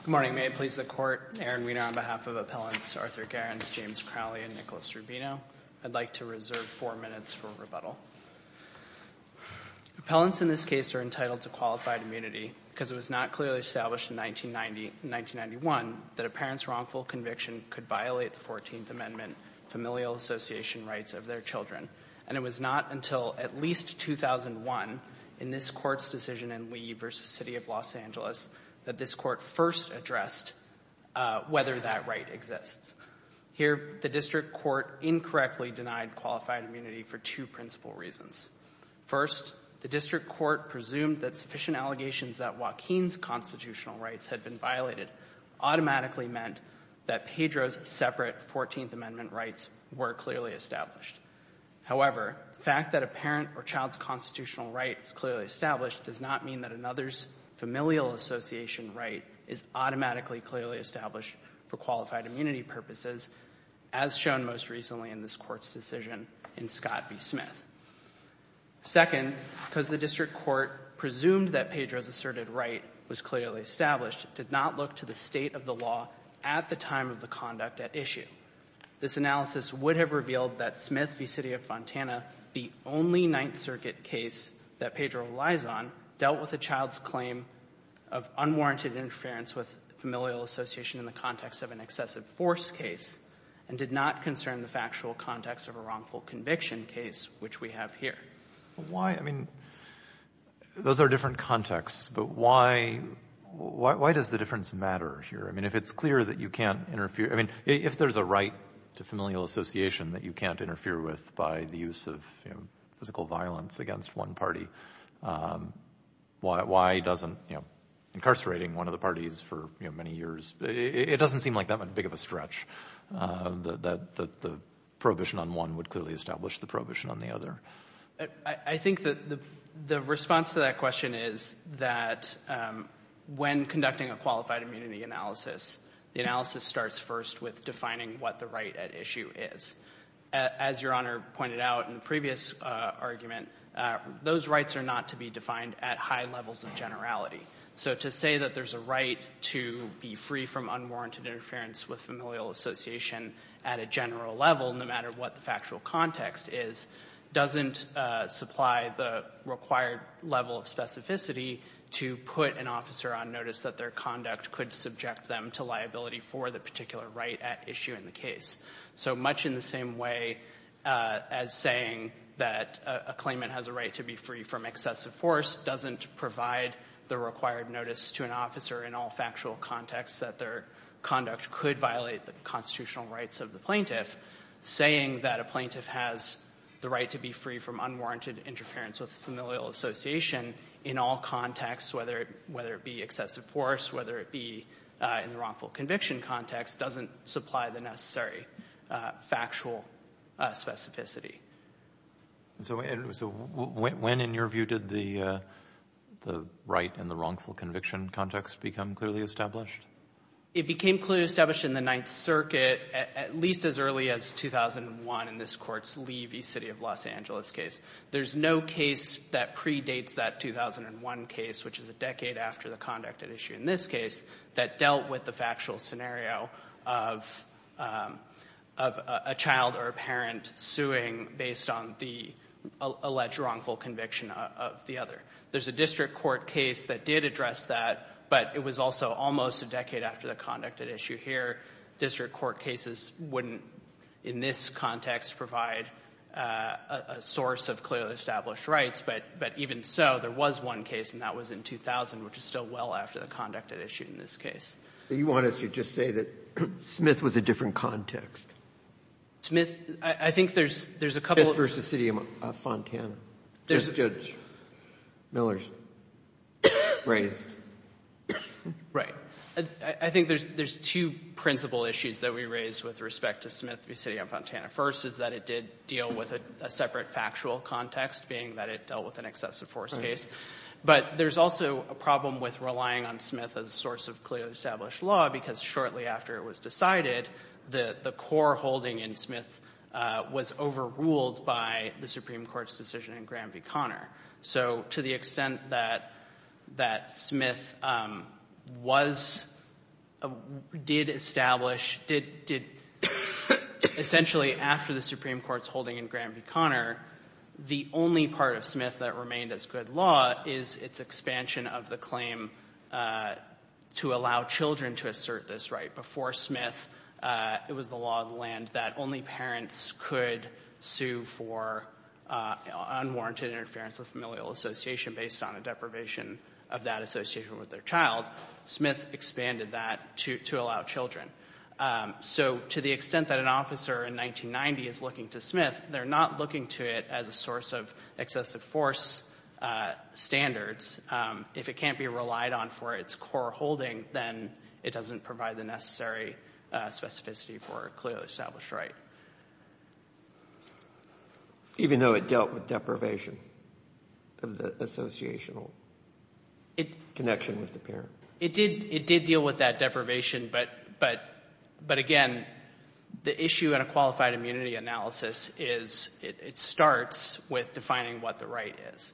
Good morning. May it please the Court, Aaron Wiener on behalf of Appellants Arthur Gerrans, James Crowley, and Nicholas Rubino, I'd like to reserve four minutes for rebuttal. Appellants in this case are entitled to qualified immunity because it was not clearly established in 1990, 1991, that a parent's wrongful conviction could violate the 14th Amendment familial association rights of their children. And it was not until at least 2001, in this Court's decision in Lee v. City of Los Angeles, that this Court first addressed whether that right exists. Here, the District Court incorrectly denied qualified immunity for two principal reasons. First, the District Court presumed that sufficient allegations that Joaquin's constitutional rights had been violated automatically meant that Pedro's separate 14th Amendment rights were clearly established. However, the fact that a parent or child's constitutional right is clearly established does not mean that another's familial association right is automatically clearly established for qualified immunity purposes, as shown most recently in this Court's decision in Scott v. Smith. Second, because the District Court presumed that Pedro's asserted right was clearly established, it did not look to the state of the law at the time of the conduct at issue. This analysis would have revealed that Smith v. City of Fontana, the only Ninth Circuit case that Pedro relies on, dealt with a child's claim of unwarranted interference with familial association in the context of an excessive force case, and did not concern the factual context of a wrongful conviction case, which we have here. Why, I mean, those are different contexts, but why does the difference matter here? I mean, if it's clear that you can't interfere, I mean, if there's a right to familial association that you can't interfere with by the use of physical violence against one party, why doesn't, you know, incarcerating one of the parties for many years, it doesn't seem like that big of a stretch, that the prohibition on one would clearly establish the prohibition on the other? I think that the response to that question is that when conducting a qualified immunity analysis, the analysis starts first with defining what the right at issue is. As Your Honor pointed out in the previous argument, those rights are not to be defined at high levels of generality. So to say that there's a right to be free from unwarranted interference with familial association at a general level, no matter what the factual context is, doesn't supply the required level of specificity to put an officer on notice that their conduct could subject them to liability for the particular right at issue in the case. So much in the same way as saying that a claimant has a right to be free from excessive force doesn't provide the required notice to an officer in all factual contexts that their conduct could violate the constitutional rights of the plaintiff. Saying that a plaintiff has the right to be free from unwarranted interference with familial association in all contexts, whether it be excessive force, whether it be in the wrongful conviction context, doesn't supply the necessary factual specificity. So when, in your view, did the right and the wrongful conviction context become clearly established? It became clearly established in the Ninth Circuit at least as early as 2001 in this court's Levy City of Los Angeles case. There's no case that predates that 2001 case, which is a decade after the conduct at issue in this case, that dealt with the factual scenario of a child or a parent suing based on the alleged wrongful conviction of the other. There's a district court case that did address that, but it was also almost a decade after the conduct at issue here. District court cases wouldn't in this context provide a source of clearly established rights, but even so, there was one case, and that was in 2000, which is still well after the conduct at issue in this case. But you want us to just say that Smith was a different context? Smith, I think there's a couple of them. Smith v. City of Fontana, Judge Miller's raised. Right. I think there's two principal issues that we raise with respect to Smith v. City of Fontana. First is that it did deal with a separate factual context, being that it dealt with an excessive force case. But there's also a problem with relying on Smith as a source of clearly established law, because shortly after it was decided, the core holding in Smith was overruled by the Supreme Court's decision in Graham v. Conner. So to the extent that Smith did establish, essentially after the Supreme Court's holding in Graham v. Conner, the only part of Smith that remained as good law is its expansion of the claim to allow children to assert this right. Before Smith, it was the law of the land that only parents could sue for unwarranted interference with familial association based on a deprivation of that association with their child. Smith expanded that to allow children. So to the extent that an officer in 1990 is looking to Smith, they're not looking to it as a source of excessive force standards. If it can't be relied on for its core holding, then it doesn't provide the necessary specificity for a clearly established right. Even though it dealt with deprivation of the associational connection with the parent? It did deal with that deprivation, but again, the issue in a qualified immunity analysis is it starts with defining what the right is.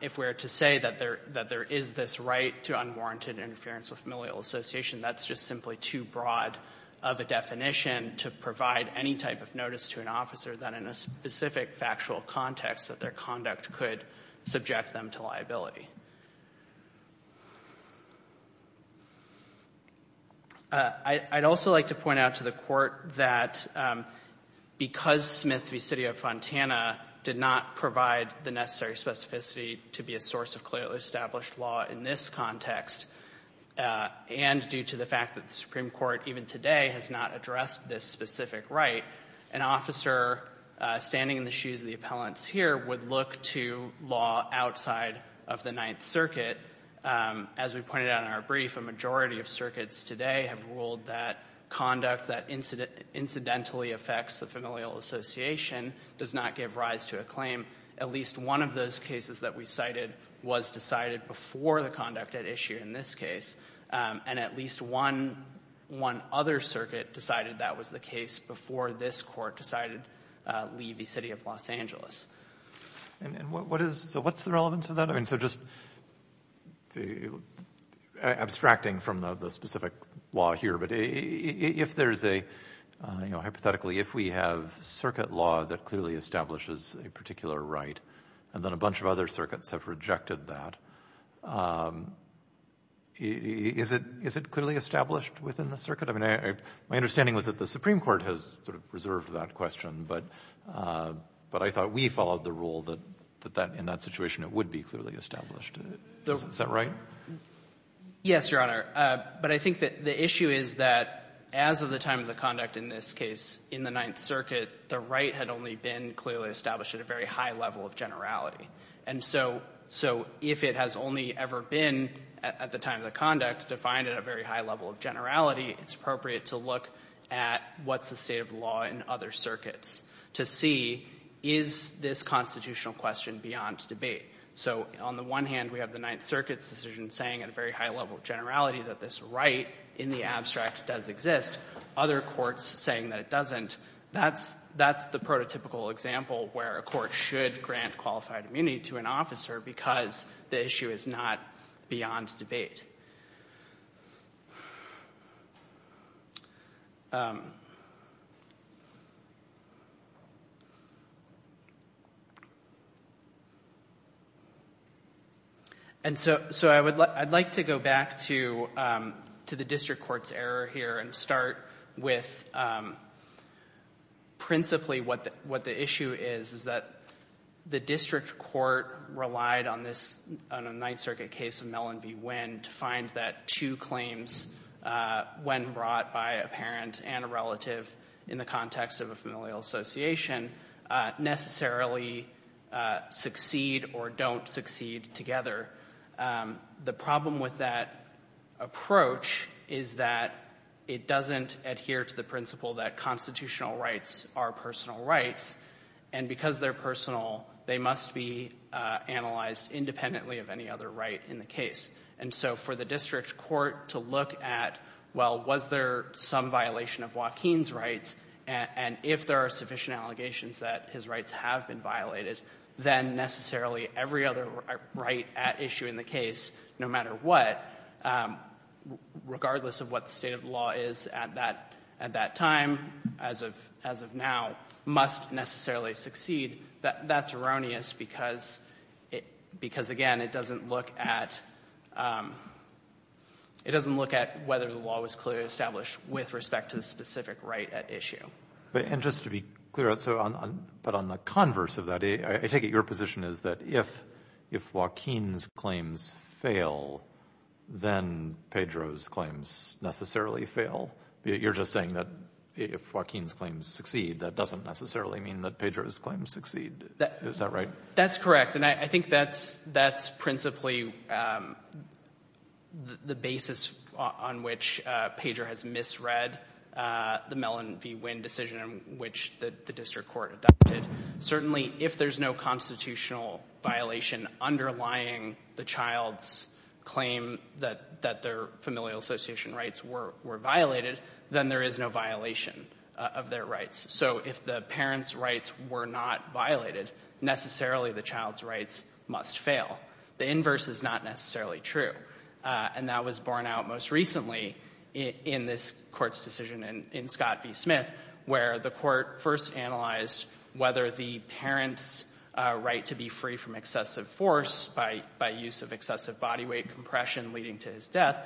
If we're to say that there is this right to unwarranted interference with familial association, that's just simply too broad of a definition to provide any type of notice to an officer that in a specific factual context that their conduct could subject them to liability. I'd also like to point out to the court that because Smith v. City of Fontana did not provide the necessary specificity to be a source of clearly established law in this context, and due to the fact that the Supreme Court even today has not addressed this specific right, an officer standing in the shoes of the appellants here would look to law outside of the Ninth Circuit. As we pointed out in our brief, a majority of circuits today have ruled that conduct that incidentally affects the familial association does not give rise to a claim. At least one of those cases that we cited was decided before the conduct at issue in this case, and at least one other circuit decided that was the case before this court decided Lee v. City of Los Angeles. So what's the relevance of that? So just abstracting from the specific law here, but hypothetically if we have circuit law that clearly establishes a particular right and then a bunch of other circuits have rejected that, is it clearly established within the circuit? I mean, my understanding was that the Supreme Court has sort of reserved that question, but I thought we followed the rule that in that situation it would be clearly established. Is that right? Yes, Your Honor. But I think that the issue is that as of the time of the conduct in this case in the Ninth So if it has only ever been at the time of the conduct defined at a very high level of generality, it's appropriate to look at what's the state of the law in other circuits to see is this constitutional question beyond debate. So on the one hand, we have the Ninth Circuit's decision saying at a very high level of generality that this right in the abstract does exist. Other courts saying that it doesn't. That's the prototypical example where a court should grant qualified immunity to an officer because the issue is not beyond debate. And so I'd like to go back to the district court's error here and start with principally what the issue is, is that the district court relied on this Ninth Circuit case of Mellon v. Winn to find that two claims, when brought by a parent and a relative in the context of a familial association, necessarily succeed or don't succeed together. The problem with that approach is that it doesn't adhere to the principle that constitutional rights are personal rights. And because they're personal, they must be analyzed independently of any other right in the case. And so for the district court to look at, well, was there some violation of Joaquin's rights, and if there are sufficient allegations that his rights have been violated, then necessarily every other right at issue in the case, no matter what, regardless of what the state of the law is at that time, as of now, must necessarily succeed. That's erroneous because, again, it doesn't look at whether the law was clearly established with respect to the specific right at issue. And just to be clear, but on the converse of that, I take it your position is that if Joaquin's claims fail, then Pedro's claims necessarily fail? You're just saying that if Joaquin's claims succeed, that doesn't necessarily mean that Pedro's claims succeed. Is that right? That's correct. And I think that's principally the basis on which Pedro has misread the Mellon v. Wynn decision in which the district court adopted. Certainly, if there's no constitutional violation underlying the child's claim that their familial association rights were violated, then there is no violation of their rights. So if the parent's rights were not violated, necessarily the child's rights must fail. The inverse is not necessarily true. And that was borne out most recently in this Court's decision in Scott v. Smith, where the Court first analyzed whether the parent's right to be free from excessive force by use of excessive body weight compression leading to his death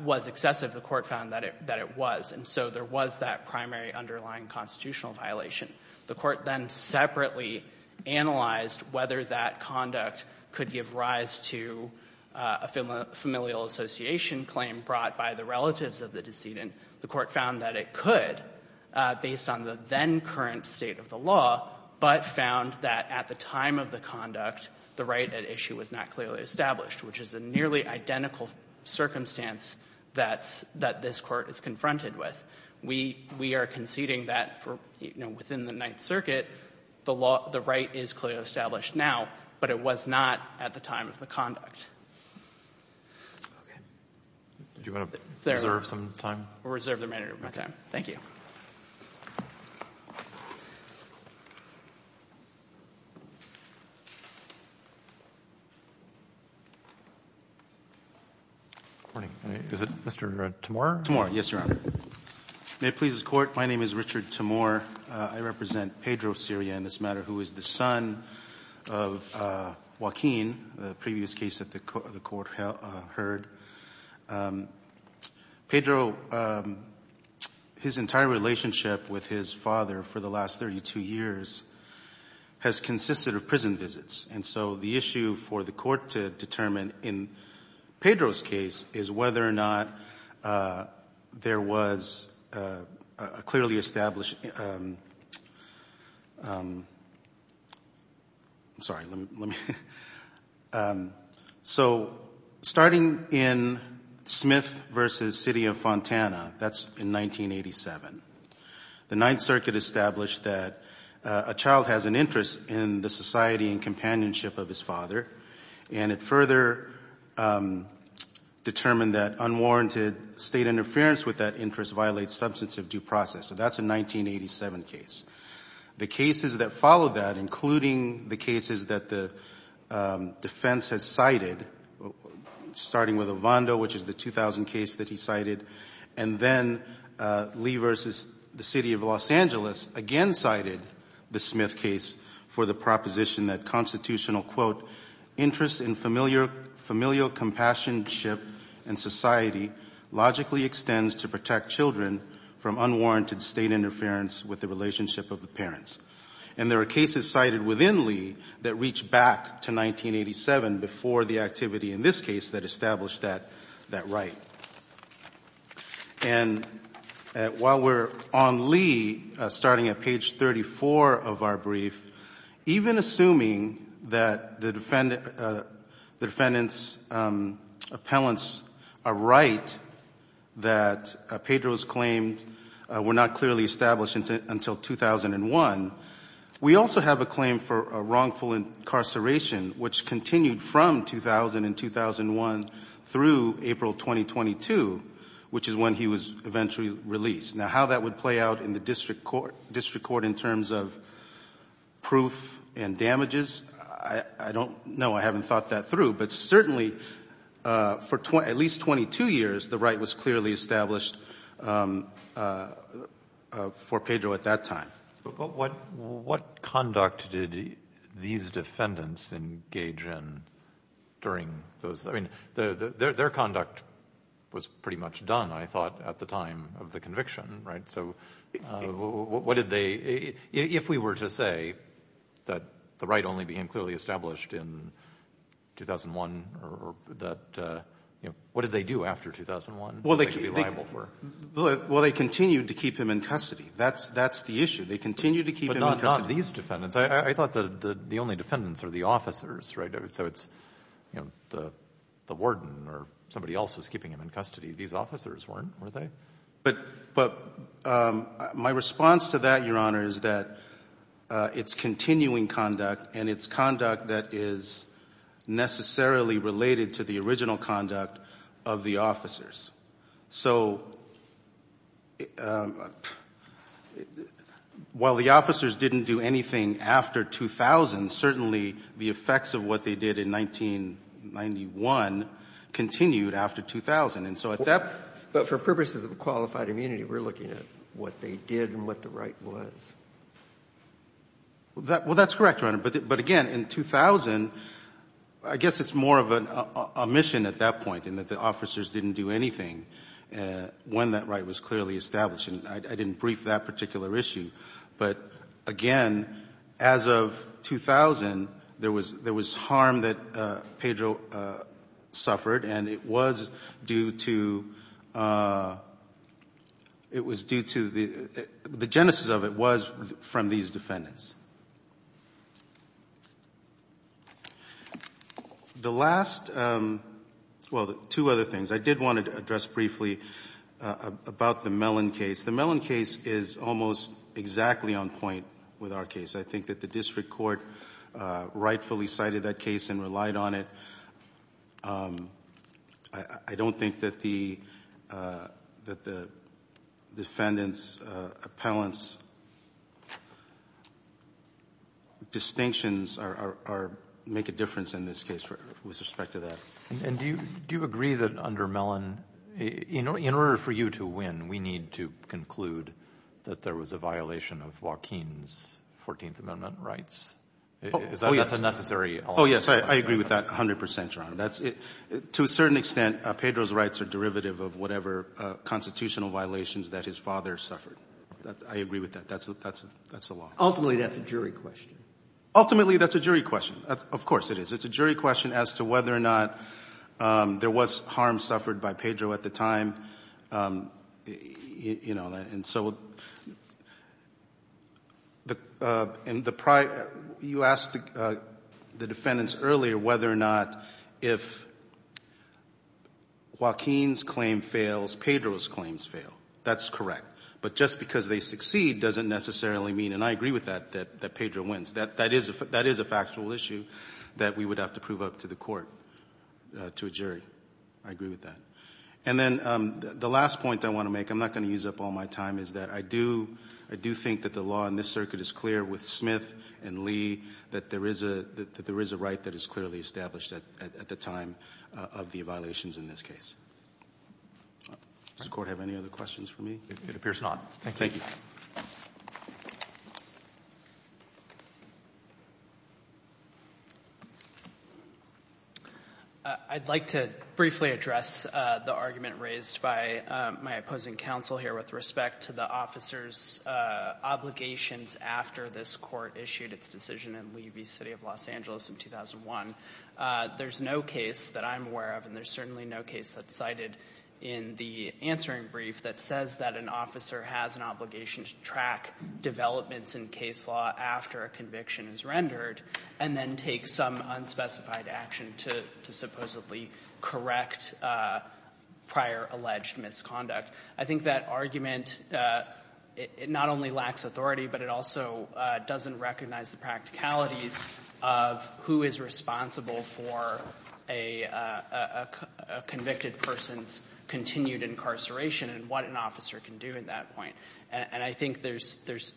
was excessive. The Court found that it was. And so there was that primary underlying constitutional violation. The Court then separately analyzed whether that conduct could give rise to a familial association claim brought by the relatives of the decedent. The Court found that it could, based on the then-current state of the law, but found that at the time of the conduct, the right at issue was not clearly established, which is a nearly identical circumstance that this Court is confronted with. We are conceding that within the Ninth Circuit, the right is clearly established now, but it was not at the time of the conduct. Okay. Do you want to reserve some time? We'll reserve the remainder of my time. Thank you. Good morning. Is it Mr. Timor? Timor, yes, Your Honor. May it please the Court, my name is Richard Timor. I represent Pedro, Syria, in this matter, who is the son of Joaquin, the previous case that the Court heard. Pedro, his entire relationship with his father for the last 32 years has consisted of prison visits, and so the issue for the Court to determine in Pedro's case is whether or not there was a clearly established—I'm sorry, let me—so starting in Smith v. City of Fontana, that's in 1987, the Ninth Circuit established that a child has an interest in the society and companionship of his father, and it further determined that unwarranted state interference with that interest violates substantive due process. So that's a 1987 case. The cases that followed that, including the cases that the defense has cited, starting with Ovando, which is the 2000 case that he cited, and then Lee v. City of Los Angeles again cited the Smith case for the proposition that constitutional, quote, interest in familial compassionship and society logically extends to protect children from unwarranted state interference with the relationship of the parents. And there are cases cited within Lee that reach back to 1987 before the activity in this case that established that right. And while we're on Lee, starting at page 34 of our brief, even assuming that the defendant's appellants are right, that Pedro's claims were not clearly established until 2001, we also have a claim for wrongful incarceration, which continued from 2000 and 2001 through April 2022, which is when he was eventually released. Now, how that would play out in the district court in terms of proof and damages, I don't know. I haven't thought that through. But certainly for at least 22 years, the right was clearly established for Pedro at that time. But what conduct did these defendants engage in during those? I mean, their conduct was pretty much done, I thought, at the time of the conviction. Right? So what did they — if we were to say that the right only became clearly established in 2001 or that — what did they do after 2001 that they should be liable for? Well, they continued to keep him in custody. That's the issue. They continued to keep him in custody. But not these defendants. I thought that the only defendants are the officers, right? So it's, you know, the warden or somebody else was keeping him in custody. These officers weren't, were they? But my response to that, Your Honor, is that it's continuing conduct and it's conduct that is necessarily related to the original conduct of the officers. So while the officers didn't do anything after 2000, certainly the effects of what they did in 1991 continued after 2000. And so at that — But for purposes of qualified immunity, we're looking at what they did and what the right was. Well, that's correct, Your Honor. But again, in 2000, I guess it's more of an omission at that point in that the officers didn't do anything when that right was clearly established, and I didn't brief that particular issue. But again, as of 2000, there was harm that Pedro suffered, and it was due to — it was due to — the genesis of it was from these defendants. The last — well, two other things. I did want to address briefly about the Mellon case. The Mellon case is almost exactly on point with our case. I think that the district court rightfully cited that case and relied on it. I don't think that the defendants' appellants' distinctions are — make a difference in this case with respect to that. And do you agree that under Mellon, in order for you to win, we need to conclude that there was a violation of Joaquin's 14th Amendment rights? Oh, yes. That's a necessary element. Oh, yes. I agree with that 100 percent, Your Honor. To a certain extent, Pedro's rights are derivative of whatever constitutional violations that his father suffered. I agree with that. That's the law. Ultimately, that's a jury question. Ultimately, that's a jury question. Of course it is. It's a jury question as to whether or not there was harm suffered by Pedro at the time. And so you asked the defendants earlier whether or not if Joaquin's claim fails, Pedro's claims fail. That's correct. But just because they succeed doesn't necessarily mean — and I agree with that, that Pedro wins. That is a factual issue that we would have to prove up to the court, to a jury. I agree with that. And then the last point I want to make — I'm not going to use up all my time — is that I do think that the law in this circuit is clear with Smith and Lee that there is a right that is clearly established at the time of the violations in this case. Does the Court have any other questions for me? It appears not. Thank you. I'd like to briefly address the argument raised by my opposing counsel here with respect to the officer's obligations after this Court issued its decision in Levy City of Los Angeles in 2001. There's no case that I'm aware of, and there's certainly no case that's cited in the case law after a conviction is rendered and then takes some unspecified action to supposedly correct prior alleged misconduct. I think that argument, it not only lacks authority, but it also doesn't recognize the practicalities of who is responsible for a convicted person's continued incarceration and what an officer can do at that point. And I think there's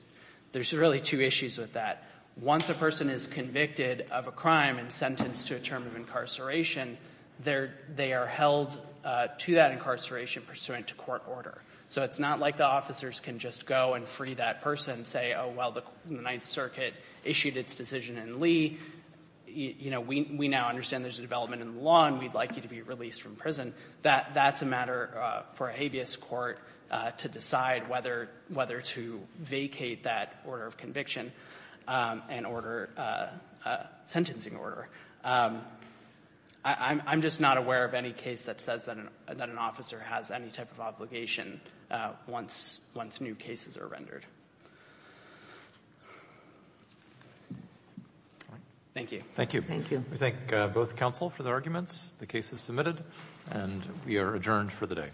really two issues with that. Once a person is convicted of a crime and sentenced to a term of incarceration, they are held to that incarceration pursuant to court order. So it's not like the officers can just go and free that person and say, oh, well, the Ninth Circuit issued its decision in Lee. We now understand there's a development in the law, and we'd like you to be released from prison. That's a matter for a habeas court to decide whether to vacate that order of conviction and order a sentencing order. I'm just not aware of any case that says that an officer has any type of obligation once new cases are rendered. Thank you. Thank you. Thank you. Thank you, Mr. Counsel, for the arguments. The case is submitted, and we are adjourned for the day.